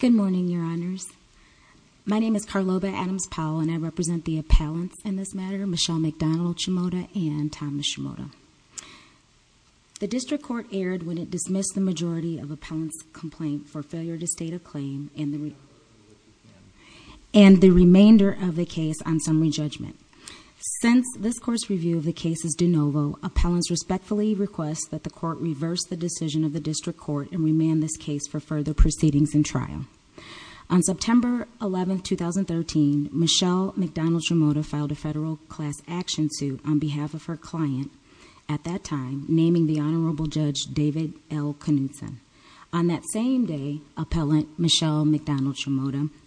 Good morning, Your Honors. My name is Carloba Adams-Powell, and I represent the appellants in this matter, Michelle MacDonald Shimota and Thomas Shimota. The District Court erred when it dismissed the majority of appellants' complaint for failure to state a claim and the remainder of the case on summary judgment. Since this Court's review of the case is de novo, appellants respectfully request that the Court reverse the decision of the District Court and remand this case for further proceedings and trial. On September 11, 2013, Michelle MacDonald Shimota filed a federal class action suit on behalf of her client, at that time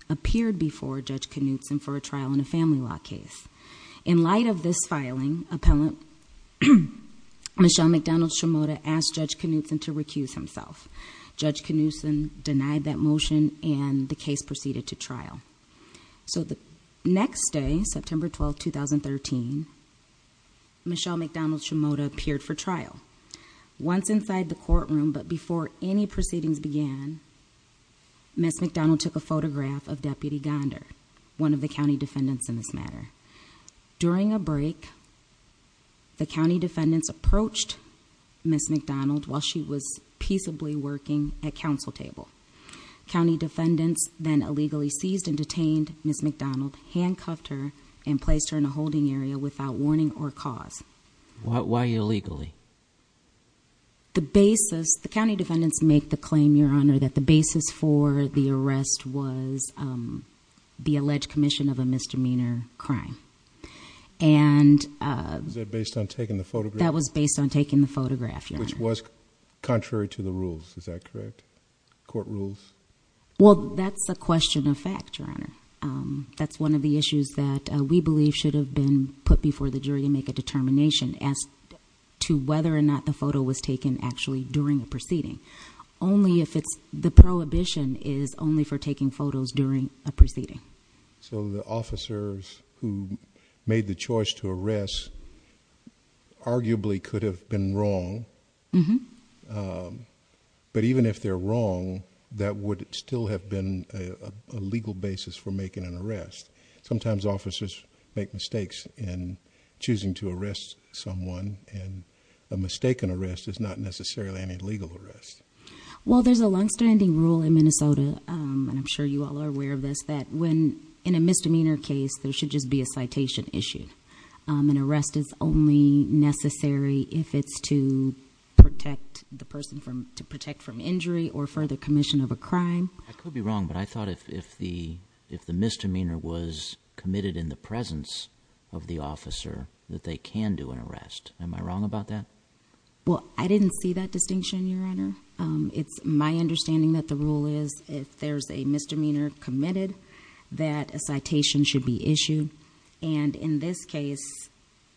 appeared before Judge Knutson for a trial in a family law case. In light of this filing, appellant Michelle MacDonald Shimota asked Judge Knutson to recuse himself. Judge Knutson denied that motion, and the case proceeded to trial. So the next day, September 12, 2013, Michelle MacDonald Shimota appeared for trial. Once inside the courtroom, but before any trial, she took a photograph of Deputy Gonder, one of the county defendants in this matter. During a break, the county defendants approached Ms. MacDonald while she was peaceably working at counsel table. County defendants then illegally seized and detained Ms. MacDonald, handcuffed her and placed her in a holding area without warning or cause. Why illegally? The basis, the county defendants make the claim, Your Honor, that the basis for the arrest was the alleged commission of a misdemeanor crime. Was that based on taking the photograph? That was based on taking the photograph, Your Honor. Which was contrary to the rules, is that correct? Court rules? Well, that's a question of fact, Your Honor. That's one of the issues that we believe should have been put before the jury to make a determination as to whether or not the photo was taken actually during the proceeding. Only if it's the prohibition is only for taking photos during a proceeding. So the officers who made the choice to arrest arguably could have been wrong. But even if they're wrong, that would still have been a legal basis for making an arrest. Sometimes officers make mistakes in choosing to arrest someone and a mistaken arrest is not necessarily any legal arrest. Well, there's a longstanding rule in Minnesota, and I'm sure you all are aware of this, that when in a misdemeanor case, there should just be a citation issued. An arrest is only necessary if it's to protect the person from, to protect from injury or further commission of a crime. I could be wrong, but I thought if the misdemeanor was committed in the presence of the officer that they can do an arrest. Am I wrong about that? Well, I didn't see that distinction, Your Honor. It's my understanding that the rule is if there's a misdemeanor committed, that a citation should be issued. And in this case,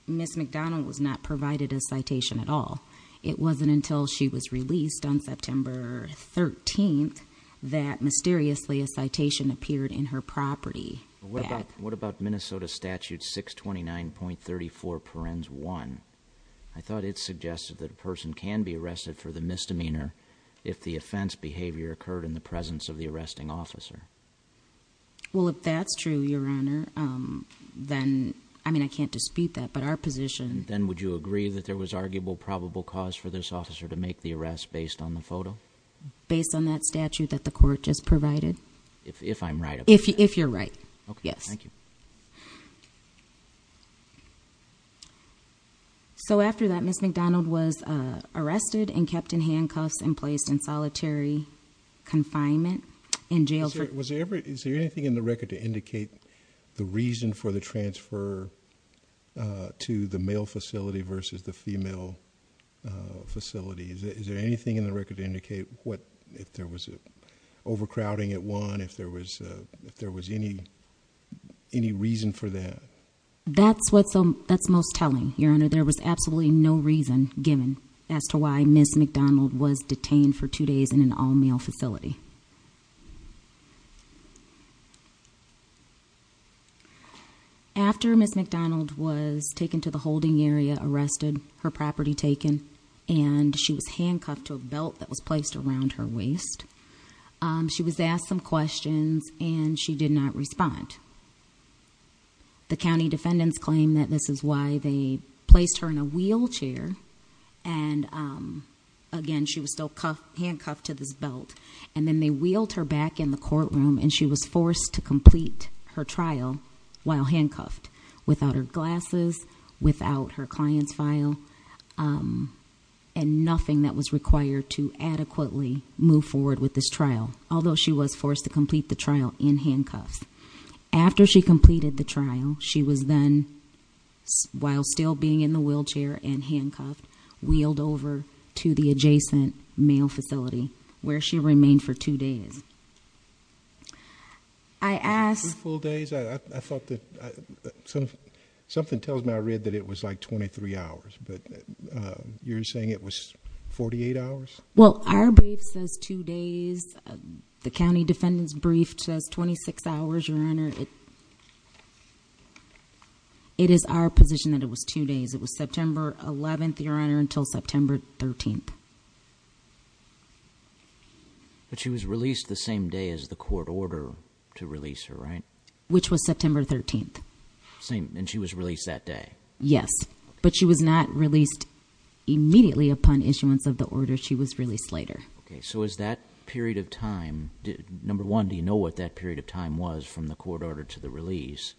Ms. McDonald was not provided a citation at all. It wasn't until she was released on September 13th that mysteriously a citation appeared in her property. What about Minnesota Statute 629.34 parens 1? I thought it suggested that a person can be arrested for the misdemeanor if the offense behavior occurred in the presence of the arresting officer. Well, if that's true, Your Honor, then, I mean, I can't dispute that, but our position Then would you agree that there was arguable probable cause for this officer to make the arrest based on the photo? Based on that statute that the court just provided? If I'm right about that. If you're right, yes. So after that, Ms. McDonald was arrested and kept in handcuffs and placed in solitary confinement in jail. Was there ever, is there anything in the record to indicate the reason for the transfer to the male facility versus the female facility? Is there anything in the record to indicate if there was overcrowding at one, if there was any reason for that? That's what's most telling, Your Honor. There was absolutely no reason given as to why Ms. McDonald was detained for two days in an all-male facility. After Ms. McDonald was taken to the holding area, arrested, her property taken, and she was handcuffed to a belt that was placed around her waist, she was asked some questions and she did not respond. The county defendants claim that this is why they placed her in a wheelchair and, again, she was still handcuffed to this belt. And then they wheeled her back in the courtroom and she was forced to complete her trial while to adequately move forward with this trial, although she was forced to complete the trial in handcuffs. After she completed the trial, she was then, while still being in the wheelchair and handcuffed, wheeled over to the adjacent male facility where she remained for two days. I asked— Two full days? I thought that, something tells me I read that it was like 23 hours, but you're saying it was 48 hours? Well, our brief says two days. The county defendant's brief says 26 hours, Your Honor. It is our position that it was two days. It was September 11th, Your Honor, until September 13th. But she was released the same day as the court ordered to release her, right? Which was September 13th. Same, and she was released that day? Yes, but she was not released immediately upon issuance of the order. She was released later. Okay, so is that period of time—Number one, do you know what that period of time was from the court order to the release?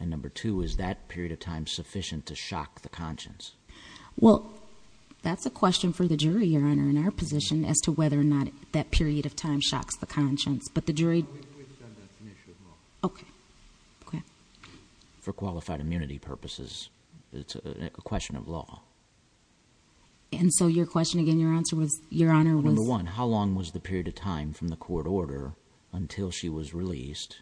And number two, is that period of time sufficient to shock the conscience? Well, that's a question for the jury, Your Honor, in our position as to whether or not that period of time shocks the conscience. But the jury— We've done that initially as well. Okay, okay. For qualified immunity purposes, it's a question of law. And so your question, again, your answer was, Your Honor, was— Number one, how long was the period of time from the court order until she was released?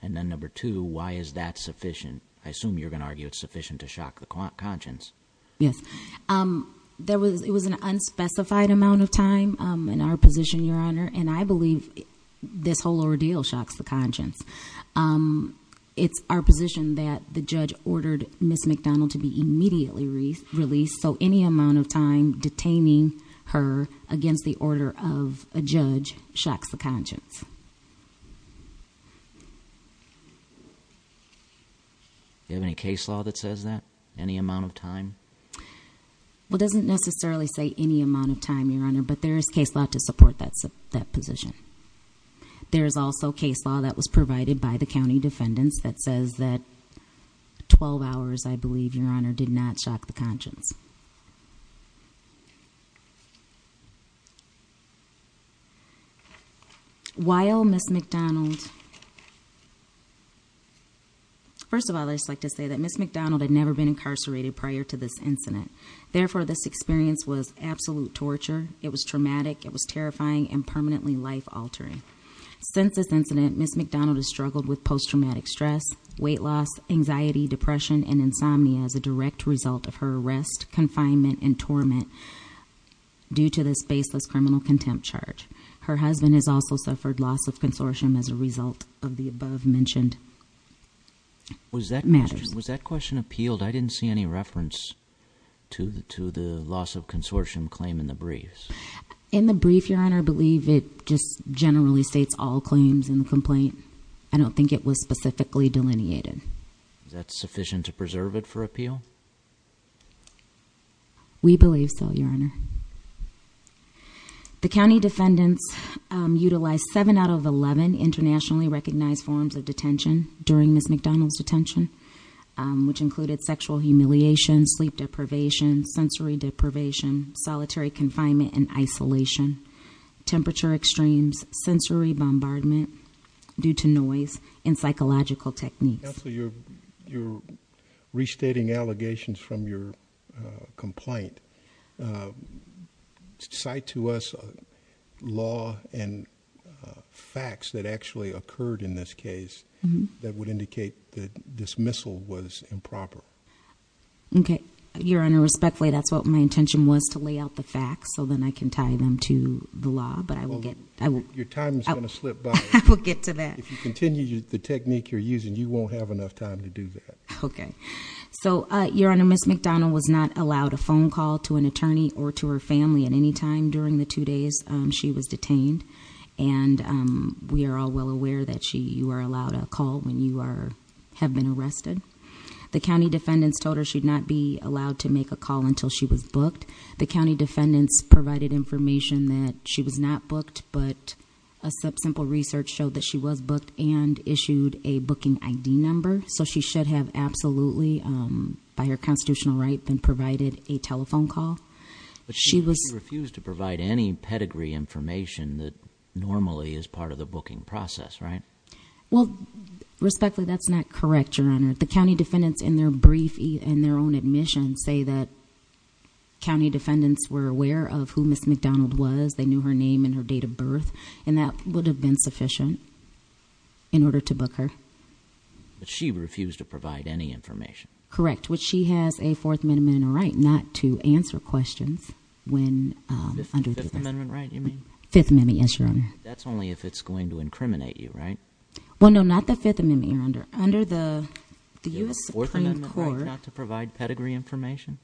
And then number two, why is that sufficient? I assume you're going to argue it's sufficient to shock the conscience. Yes. It was an unspecified amount of time in our position, Your Honor, and I believe this whole ordeal shocks the conscience. It's our position that the judge ordered Ms. McDonald to be immediately released, so any amount of time detaining her against the order of a judge shocks the conscience. Do you have any case law that says that? Any amount of time? Well, it doesn't necessarily say any amount of time, Your Honor, but there is case law to support that position. There is also case law that was provided by the county defendants that says that 12 hours, I believe, Your Honor, did not shock the conscience. While Ms. McDonald— First of all, I'd just like to say that Ms. McDonald had never been incarcerated prior to this incident. Therefore, this experience was absolute torture. It was traumatic. It was terrifying and permanently life altering. Since this incident, Ms. McDonald has struggled with post-traumatic stress, weight loss, anxiety, depression, and insomnia as a direct result of her arrest, confinement, and torment due to this baseless criminal contempt charge. Her husband has also suffered loss of consortium as a result of the above-mentioned matters. Was that question appealed? I didn't see any reference to the loss of consortium claim in the briefs. In the brief, Your Honor, I believe it just generally states all claims in the complaint. I don't think it was specifically delineated. Is that sufficient to preserve it for appeal? We believe so, Your Honor. The county defendants utilized seven out of 11 internationally recognized forms of detention during Ms. McDonald's detention, which included sexual humiliation, sleep deprivation, sensory deprivation, solitary confinement and isolation, temperature extremes, sensory bombardment due to noise, and psychological techniques. Counselor, you're restating allegations from your complaint. Cite to us law and facts that actually occurred in this case that would indicate that dismissal was improper. Okay, Your Honor. Respectfully, that's what my intention was, to lay out the facts so then I can tie them to the law, but I will get- Your time is going to slip by. I will get to that. If you continue the technique you're using, you won't have enough time to do that. Okay. So, Your Honor, Ms. McDonald was not allowed a phone call to an attorney or to her family at any time during the two days she was detained. And we are all well aware that you are allowed a call when you have been arrested. The county defendants told her she'd not be allowed to make a call until she was booked. The county defendants provided information that she was not booked, but a simple research showed that she was booked and issued a booking ID number. So she should have absolutely, by her constitutional right, been provided a telephone call. She was- But she refused to provide any pedigree information that normally is part of the booking process, right? Well, respectfully, that's not correct, Your Honor. The county defendants in their brief and their own admission say that county defendants were aware of who Ms. McDonald was, they knew her name and her date of birth, and that would have been sufficient in order to book her. But she refused to provide any information. Correct. Which she has a Fourth Amendment right not to answer questions when under the- Fifth Amendment right, you mean? Fifth Amendment, yes, Your Honor. That's only if it's going to incriminate you, right? Well, no, not the Fifth Amendment, Your Honor. Under the U.S. Supreme Court- You have a Fourth Amendment right not to provide pedigree information?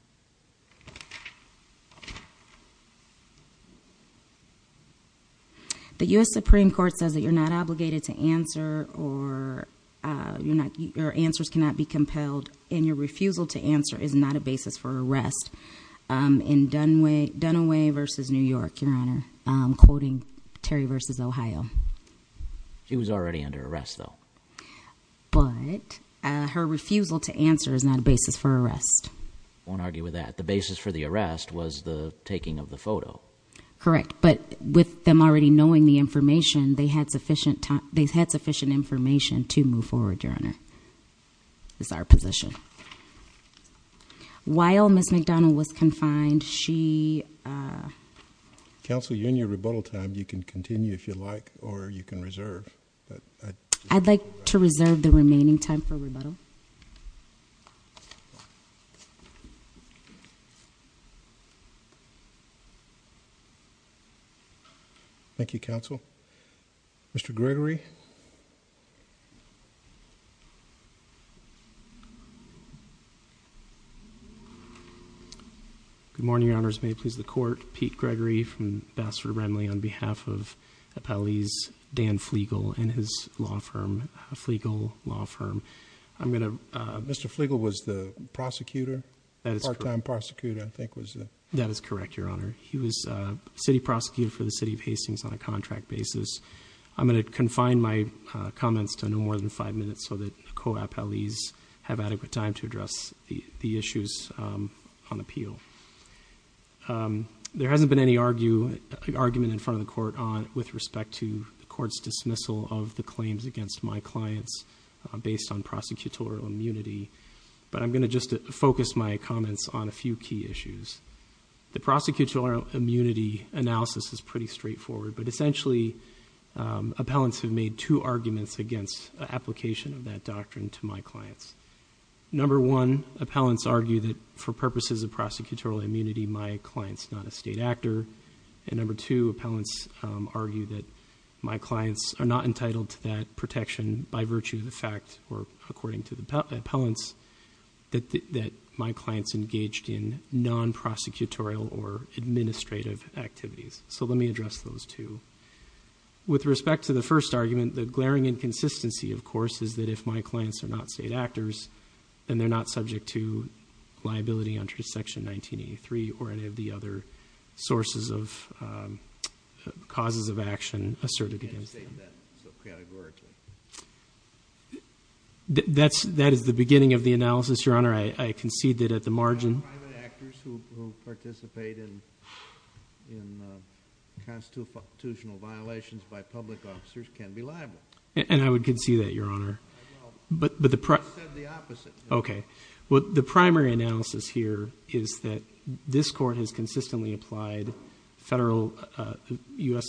The U.S. Supreme Court says that you're not obligated to answer or your answers cannot be compelled, and your refusal to answer is not a basis for arrest. In Dunaway v. New York, Your Honor, I'm quoting Terry v. Ohio. She was already under arrest, though. But her refusal to answer is not a basis for arrest. I won't argue with that. The basis for the arrest was the taking of the photo. Correct. But with them already knowing the information, they had sufficient information to move forward, Your Honor, is our position. While Ms. McDonald was confined, she- Counsel, you're in your rebuttal time. You can continue if you'd like, or you can reserve. I'd like to reserve the remaining time for rebuttal. Thank you, Counsel. Mr. Gregory? Good morning, Your Honors. May it please the Court. Pete Gregory from Bassford-Renley on behalf of Appellee's Dan Flegel and his law firm, Flegel Law Firm. I'm going to- Mr. Flegel was the prosecutor, part-time prosecutor, I think was the- That is correct, Your Honor. He was a city prosecutor for the City of Hastings on a contract basis. I'm going to confine my comments to no more than five minutes so that co-appellees have adequate time to address the issues on appeal. There hasn't been any argument in front of the Court with respect to the Court's dismissal of the claims against my clients based on prosecutorial immunity, but I'm going to just focus my comments on a few key issues. The prosecutorial immunity analysis is pretty straightforward, but essentially, appellants have made two arguments against application of that doctrine to my clients. Number one, appellants argue that for purposes of prosecutorial immunity, my client's not a state actor, and number two, appellants argue that my clients are not entitled to that protection by virtue of the fact, or according to the appellants, that my client's in non-prosecutorial or administrative activities. So let me address those two. With respect to the first argument, the glaring inconsistency, of course, is that if my clients are not state actors, then they're not subject to liability under Section 1983 or any of the other sources of causes of action asserted against them. You can't state that categorically. That is the beginning of the analysis, Your Honor. I concede that at the margin- Private actors who participate in constitutional violations by public officers can be liable. And I would concede that, Your Honor. I will. But the- I said the opposite. Okay. Well, the primary analysis here is that this Court has consistently applied federal U.S.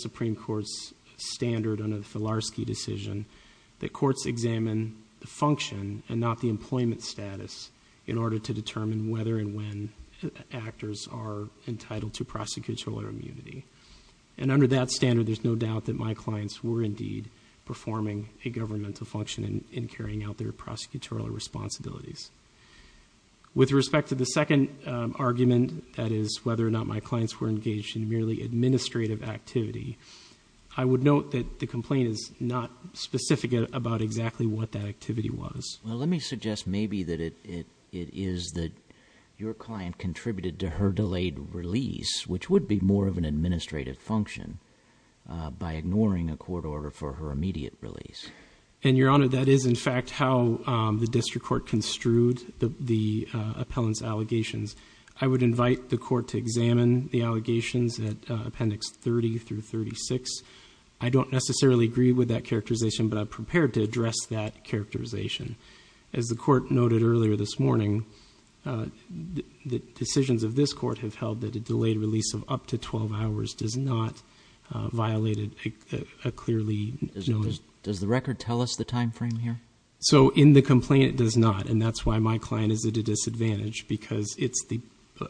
and not the employment status in order to determine whether and when actors are entitled to prosecutorial immunity. And under that standard, there's no doubt that my clients were indeed performing a governmental function in carrying out their prosecutorial responsibilities. With respect to the second argument, that is whether or not my clients were engaged in merely administrative activity, I would note that the complaint is not specific about exactly what that activity was. Well, let me suggest maybe that it is that your client contributed to her delayed release, which would be more of an administrative function, by ignoring a court order for her immediate release. And, Your Honor, that is in fact how the District Court construed the appellant's allegations. I would invite the Court to examine the allegations at Appendix 30 through 36. I don't necessarily agree with that characterization, but I'm prepared to address that characterization. As the Court noted earlier this morning, the decisions of this Court have held that a delayed release of up to 12 hours does not violate a clearly noted- Does the record tell us the time frame here? So in the complaint, it does not. And that's why my client is at a disadvantage, because it's the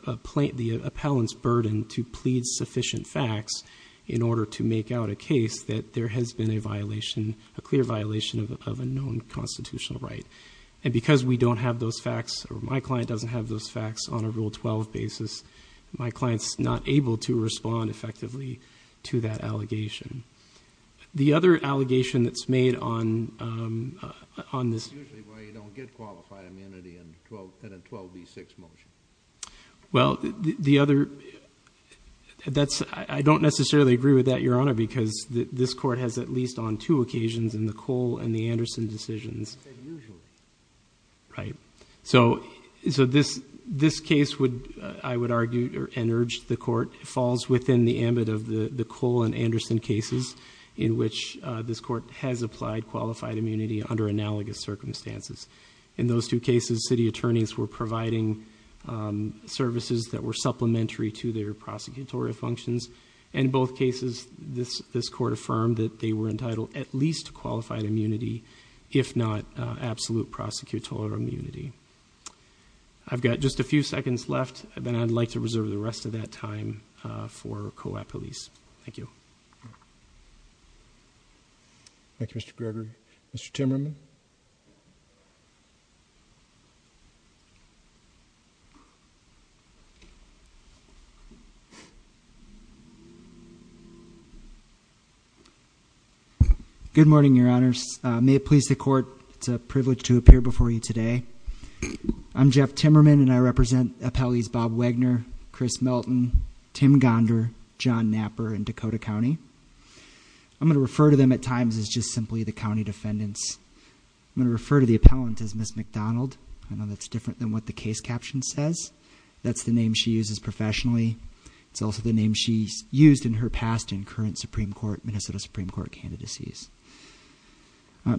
appellant's burden to plead sufficient facts in order to make out a case that there has been a violation, a clear violation of a known constitutional right. And because we don't have those facts, or my client doesn't have those facts on a Rule 12 basis, my client's not able to respond effectively to that allegation. The other allegation that's made on this- Usually why you don't get qualified immunity in a 12b6 motion. Well, the other- I don't necessarily agree with that, Your Honor, because this Court has at least on two occasions in the Cole and the Anderson decisions- You said usually. Right. So this case would, I would argue, and urge the Court, falls within the ambit of the Cole and Anderson cases in which this Court has applied qualified immunity under analogous circumstances. In those two cases, city attorneys were providing services that were supplementary to their prosecutorial functions, and in both cases, this Court affirmed that they were entitled at least to qualified immunity, if not absolute prosecutorial immunity. I've got just a few seconds left, then I'd like to reserve the rest of that time for Co-Op Police. Thank you. Thank you, Mr. Greger. Mr. Timmerman? Good morning, Your Honors. May it please the Court, it's a privilege to appear before you today. I'm Jeff Timmerman, and I represent Appellees Bob Wagner, Chris Melton, Tim Gonder, John Knapper in Dakota County. I'm going to refer to them at times as just simply the County Defendants. I'm going to refer to the appellant as Ms. McDonald. I know that's different than what the case caption says. That's the name she uses professionally. It's also the name she's used in her past in current Supreme Court, Minnesota Supreme Court candidacies.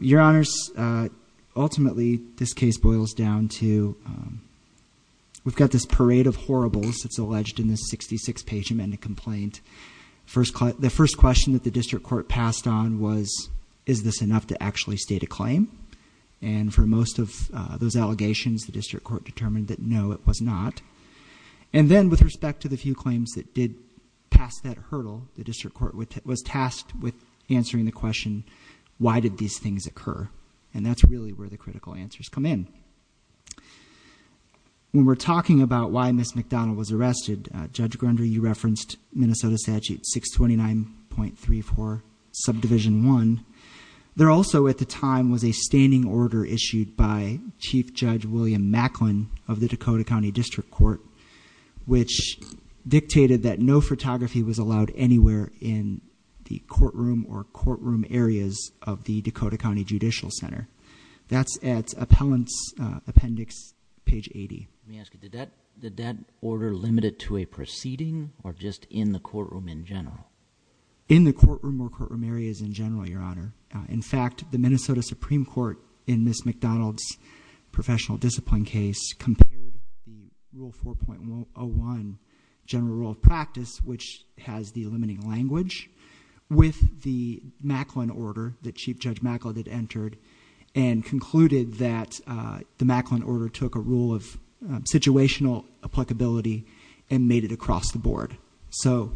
Your Honors, ultimately, this case boils down to, we've got this parade of horribles that's alleged in this 66-page amendment complaint. The first question that the District Court passed on was, is this enough to actually state a claim? And for most of those allegations, the District Court determined that, no, it was not. And then, with respect to the few claims that did pass that hurdle, the District Court was tasked with answering the question, why did these things occur? And that's really where the critical answers come in. When we're talking about why Ms. McDonald was arrested, Judge Grundy, you referenced Minnesota Statute 629.34, Subdivision 1. There also, at the time, was a standing order issued by Chief Judge William Macklin of the Dakota County District Court, which dictated that no photography was allowed anywhere in the courtroom or courtroom areas of the Dakota County Judicial Center. That's at Appellant's Appendix, page 80. Let me ask you, did that order limit it to a proceeding or just in the courtroom in general? In the courtroom or courtroom areas in general, Your Honor. In fact, the Minnesota Supreme Court, in Ms. McDonald's professional discipline case, compared the Rule 4.01 general rule of practice, which has the limiting language, with the Macklin order that Chief Judge Macklin had entered, and concluded that the Macklin order took a rule of situational applicability and made it across the board. So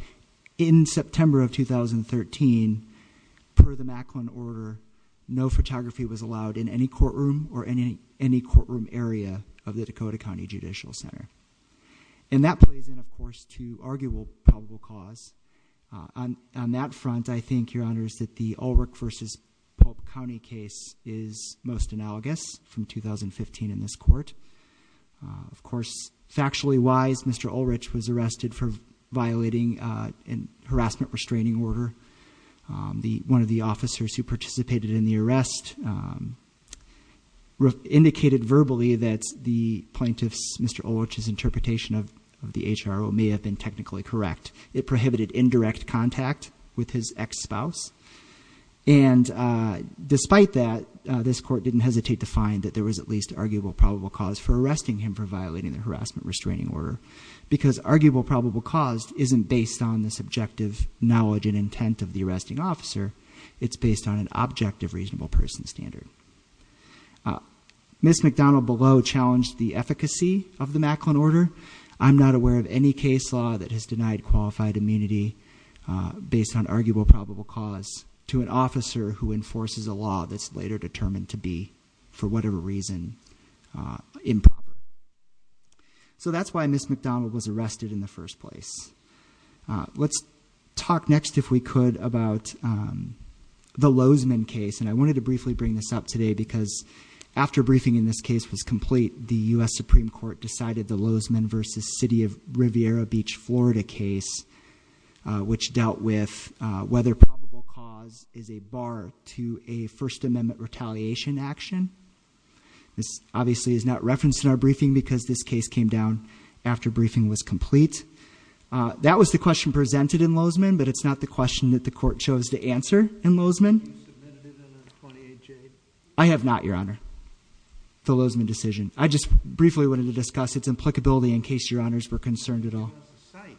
in September of 2013, per the Macklin order, no photography was allowed in any courtroom or any courtroom area of the Dakota County Judicial Center. And that plays in, of course, to arguable probable cause. On that front, I think, Your Honors, that the Ulrich v. Pulp County case is most analogous from 2015 in this court. Of course, factually wise, Mr. Ulrich was arrested for violating a harassment restraining order. One of the officers who participated in the arrest indicated verbally that the plaintiff's, Mr. Ulrich's, interpretation of the HRO may have been technically correct. It prohibited indirect contact with his ex-spouse. And despite that, this court didn't hesitate to find that there was at least arguable probable cause for arresting him for violating the harassment restraining order, because arguable probable cause isn't based on the subjective knowledge and intent of the arresting officer, it's based on an objective reasonable person standard. Ms. McDonald below challenged the efficacy of the Macklin order. I'm not aware of any case law that has denied qualified immunity based on arguable probable cause to an officer who enforces a law that's later determined to be, for whatever reason, improper. So that's why Ms. McDonald was arrested in the first place. Let's talk next, if we could, about the Lozman case. And I wanted to briefly bring this up today because after briefing in this case was complete, the US Supreme Court decided the Lozman versus City of Riviera Beach, Florida case, which dealt with whether probable cause is a bar to a First Amendment retaliation action. This obviously is not referenced in our briefing because this case came down after briefing was complete. That was the question presented in Lozman, but it's not the question that the court chose to answer in Lozman. Have you submitted it in a 28-J? I have not, your honor, the Lozman decision. I just briefly wanted to discuss its applicability in case your honors were concerned at all. I can give you a cite.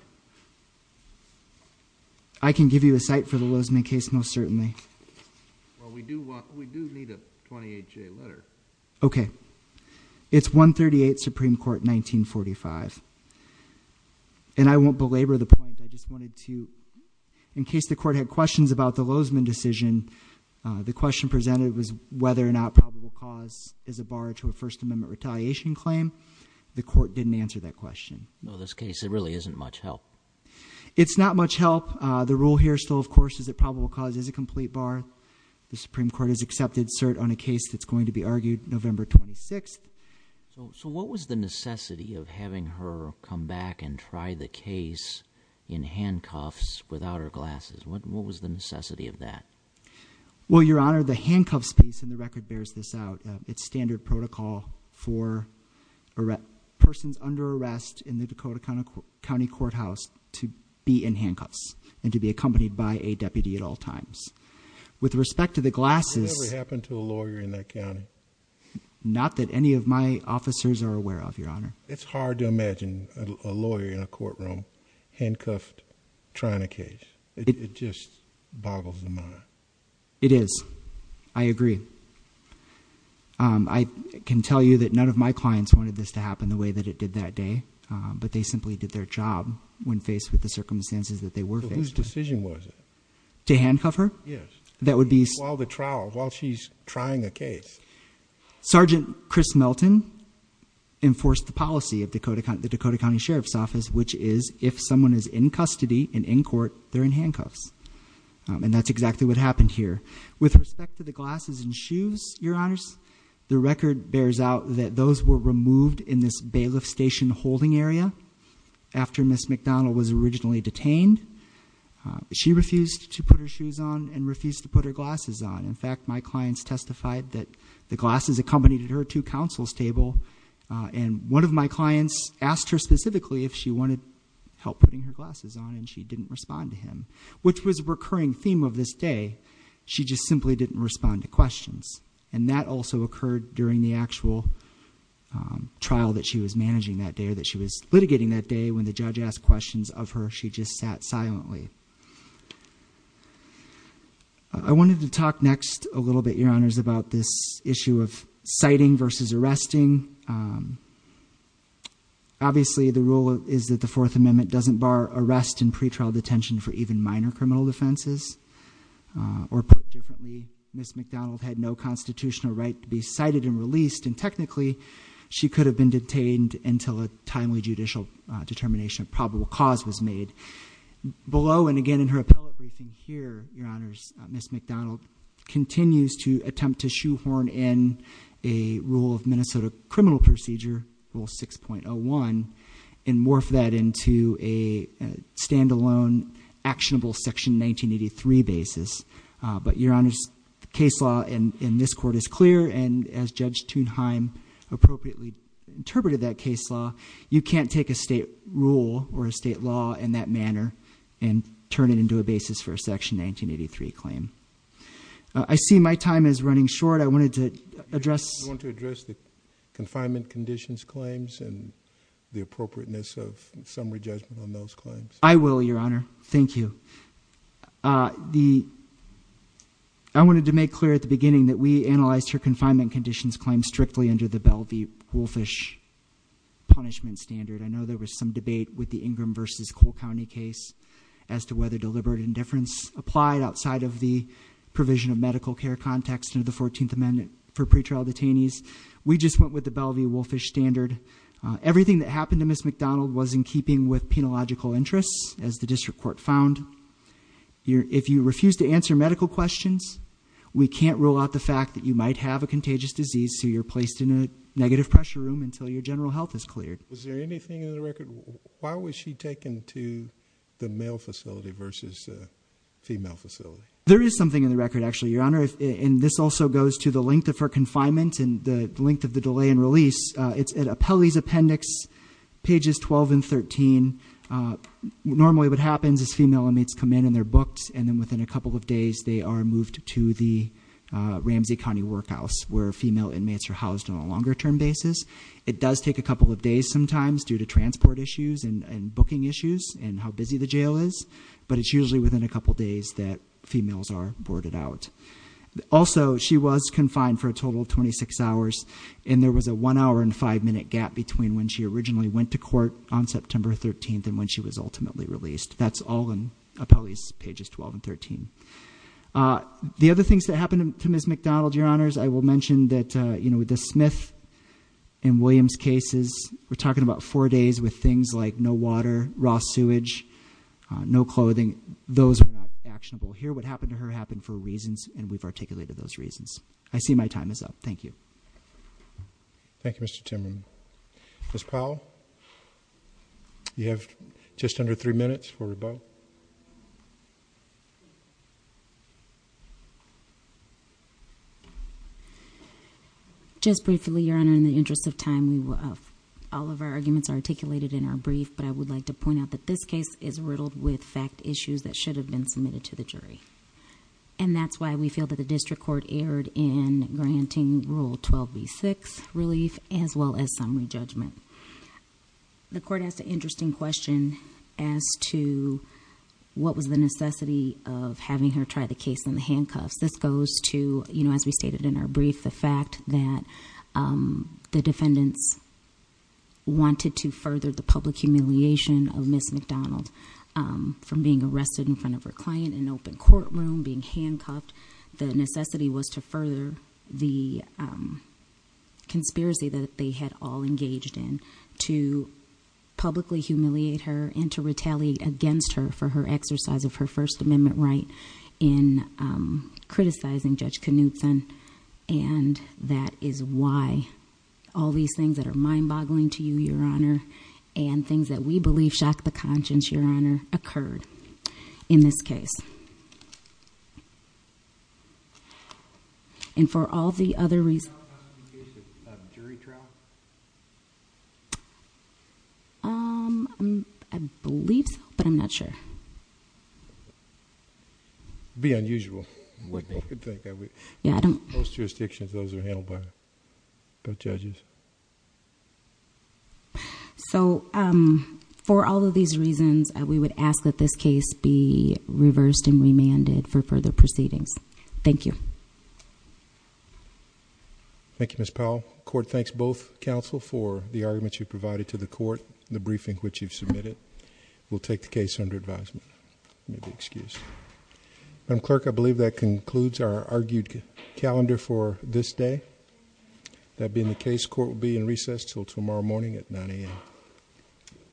I can give you a cite for the Lozman case, most certainly. Well, we do need a 28-J letter. Okay. It's 138, Supreme Court, 1945, and I won't belabor the point. I just wanted to, in case the court had questions about the Lozman decision, the question presented was whether or not probable cause is a bar to a First Amendment retaliation claim. The court didn't answer that question. No, this case, it really isn't much help. It's not much help. The rule here still, of course, is that probable cause is a complete bar. The Supreme Court has accepted cert on a case that's going to be argued November 26th. So what was the necessity of having her come back and try the case in handcuffs without her glasses? What was the necessity of that? Well, your honor, the handcuffs piece in the record bears this out. It's standard protocol for persons under arrest in the Dakota County Courthouse to be in handcuffs and to be accompanied by a deputy at all times. With respect to the glasses- It never happened to a lawyer in that county. Not that any of my officers are aware of, your honor. It's hard to imagine a lawyer in a courtroom, handcuffed, trying a case. It just boggles the mind. It is. I agree. I can tell you that none of my clients wanted this to happen the way that it did that day, but they simply did their job when faced with the circumstances that they were faced with. Whose decision was it? To handcuff her? Yes. That would be- While the trial, while she's trying a case. Sergeant Chris Melton enforced the policy of the Dakota County Sheriff's Office, which is if someone is in custody and in court, they're in handcuffs. And that's exactly what happened here. With respect to the glasses and shoes, your honors, the record bears out that those were removed in this bailiff station holding area. After Ms. McDonald was originally detained, she refused to put her shoes on and she refused to put her glasses on. In fact, my clients testified that the glasses accompanied her to counsel's table and one of my clients asked her specifically if she wanted help putting her glasses on and she didn't respond to him. Which was a recurring theme of this day. She just simply didn't respond to questions. And that also occurred during the actual trial that she was managing that day or that she was litigating that day when the judge asked questions of her, she just sat silently. I wanted to talk next a little bit, your honors, about this issue of citing versus arresting. Obviously, the rule is that the Fourth Amendment doesn't bar arrest and pretrial detention for even minor criminal defenses. Or put differently, Ms. McDonald had no constitutional right to be cited and released. And technically, she could have been detained until a timely judicial determination of probable cause was made. Below and again in her appellate briefing here, your honors, Ms. McDonald continues to attempt to shoehorn in a rule of Minnesota criminal procedure, rule 6.01, and morph that into a standalone actionable section 1983 basis. But your honors, the case law in this court is clear and as Judge Thunheim appropriately interpreted that case law, you can't take a state rule or a law in that manner and turn it into a basis for a section 1983 claim. I see my time is running short. I wanted to address- I want to address the confinement conditions claims and the appropriateness of summary judgment on those claims. I will, your honor. Thank you. I wanted to make clear at the beginning that we analyzed her confinement conditions claim strictly under the Bell v. Ingram v. Cole County case as to whether deliberate indifference applied outside of the provision of medical care context under the 14th amendment for pretrial detainees. We just went with the Bell v. Wolfish standard. Everything that happened to Ms. McDonald was in keeping with penological interests, as the district court found. If you refuse to answer medical questions, we can't rule out the fact that you might have a contagious disease, so you're placed in a negative pressure room until your general health is cleared. Is there anything in the record? Why was she taken to the male facility versus the female facility? There is something in the record, actually, your honor, and this also goes to the length of her confinement and the length of the delay in release. It's at Appellee's Appendix, pages 12 and 13, normally what happens is female inmates come in and they're booked. And then within a couple of days, they are moved to the Ramsey County Workhouse, where female inmates are housed on a longer term basis. It does take a couple of days sometimes, due to transport issues and booking issues and how busy the jail is. But it's usually within a couple days that females are boarded out. Also, she was confined for a total of 26 hours, and there was a one hour and five minute gap between when she originally went to court on September 13th and when she was ultimately released. That's all in Appellee's pages 12 and 13. The other things that happened to Ms. McDonald, your honors, I will mention that with the Smith and Williams cases, we're talking about four days with things like no water, raw sewage, no clothing. Those are not actionable. Here, what happened to her happened for reasons, and we've articulated those reasons. I see my time is up, thank you. Thank you, Mr. Timmerman. Ms. Powell, you have just under three minutes for rebuttal. Just briefly, your honor, in the interest of time, all of our arguments are articulated in our brief. But I would like to point out that this case is riddled with fact issues that should have been submitted to the jury. And that's why we feel that the district court erred in granting Rule 12B6 relief, as well as some re-judgment. The court asked an interesting question as to what was the necessity of having her try the case in the handcuffs. This goes to, as we stated in our brief, the fact that the defendants wanted to further the public humiliation of Ms. McDonald from being arrested in front of her client in an open courtroom, being handcuffed. The necessity was to further the conspiracy that they had all engaged in, to publicly humiliate her and to retaliate against her for her exercise of her First Amendment right in criticizing Judge Knutson. And that is why all these things that are mind-boggling to you, your honor, and things that we believe shock the conscience, your honor, occurred in this case. And for all the other reasons- Is there a possibility of jury trial? I believe so, but I'm not sure. Be unusual. What do you think? Yeah, I don't- Most jurisdictions, those are handled by the judges. So, for all of these reasons, we would ask that this case be reversed and remanded for further proceedings. Thank you. Thank you, Ms. Powell. Court thanks both counsel for the arguments you provided to the court, the briefing which you've submitted. We'll take the case under advisement. May be excused. Madam Clerk, I believe that concludes our argued calendar for this day. That being the case, court will be in recess until tomorrow morning at 9 AM.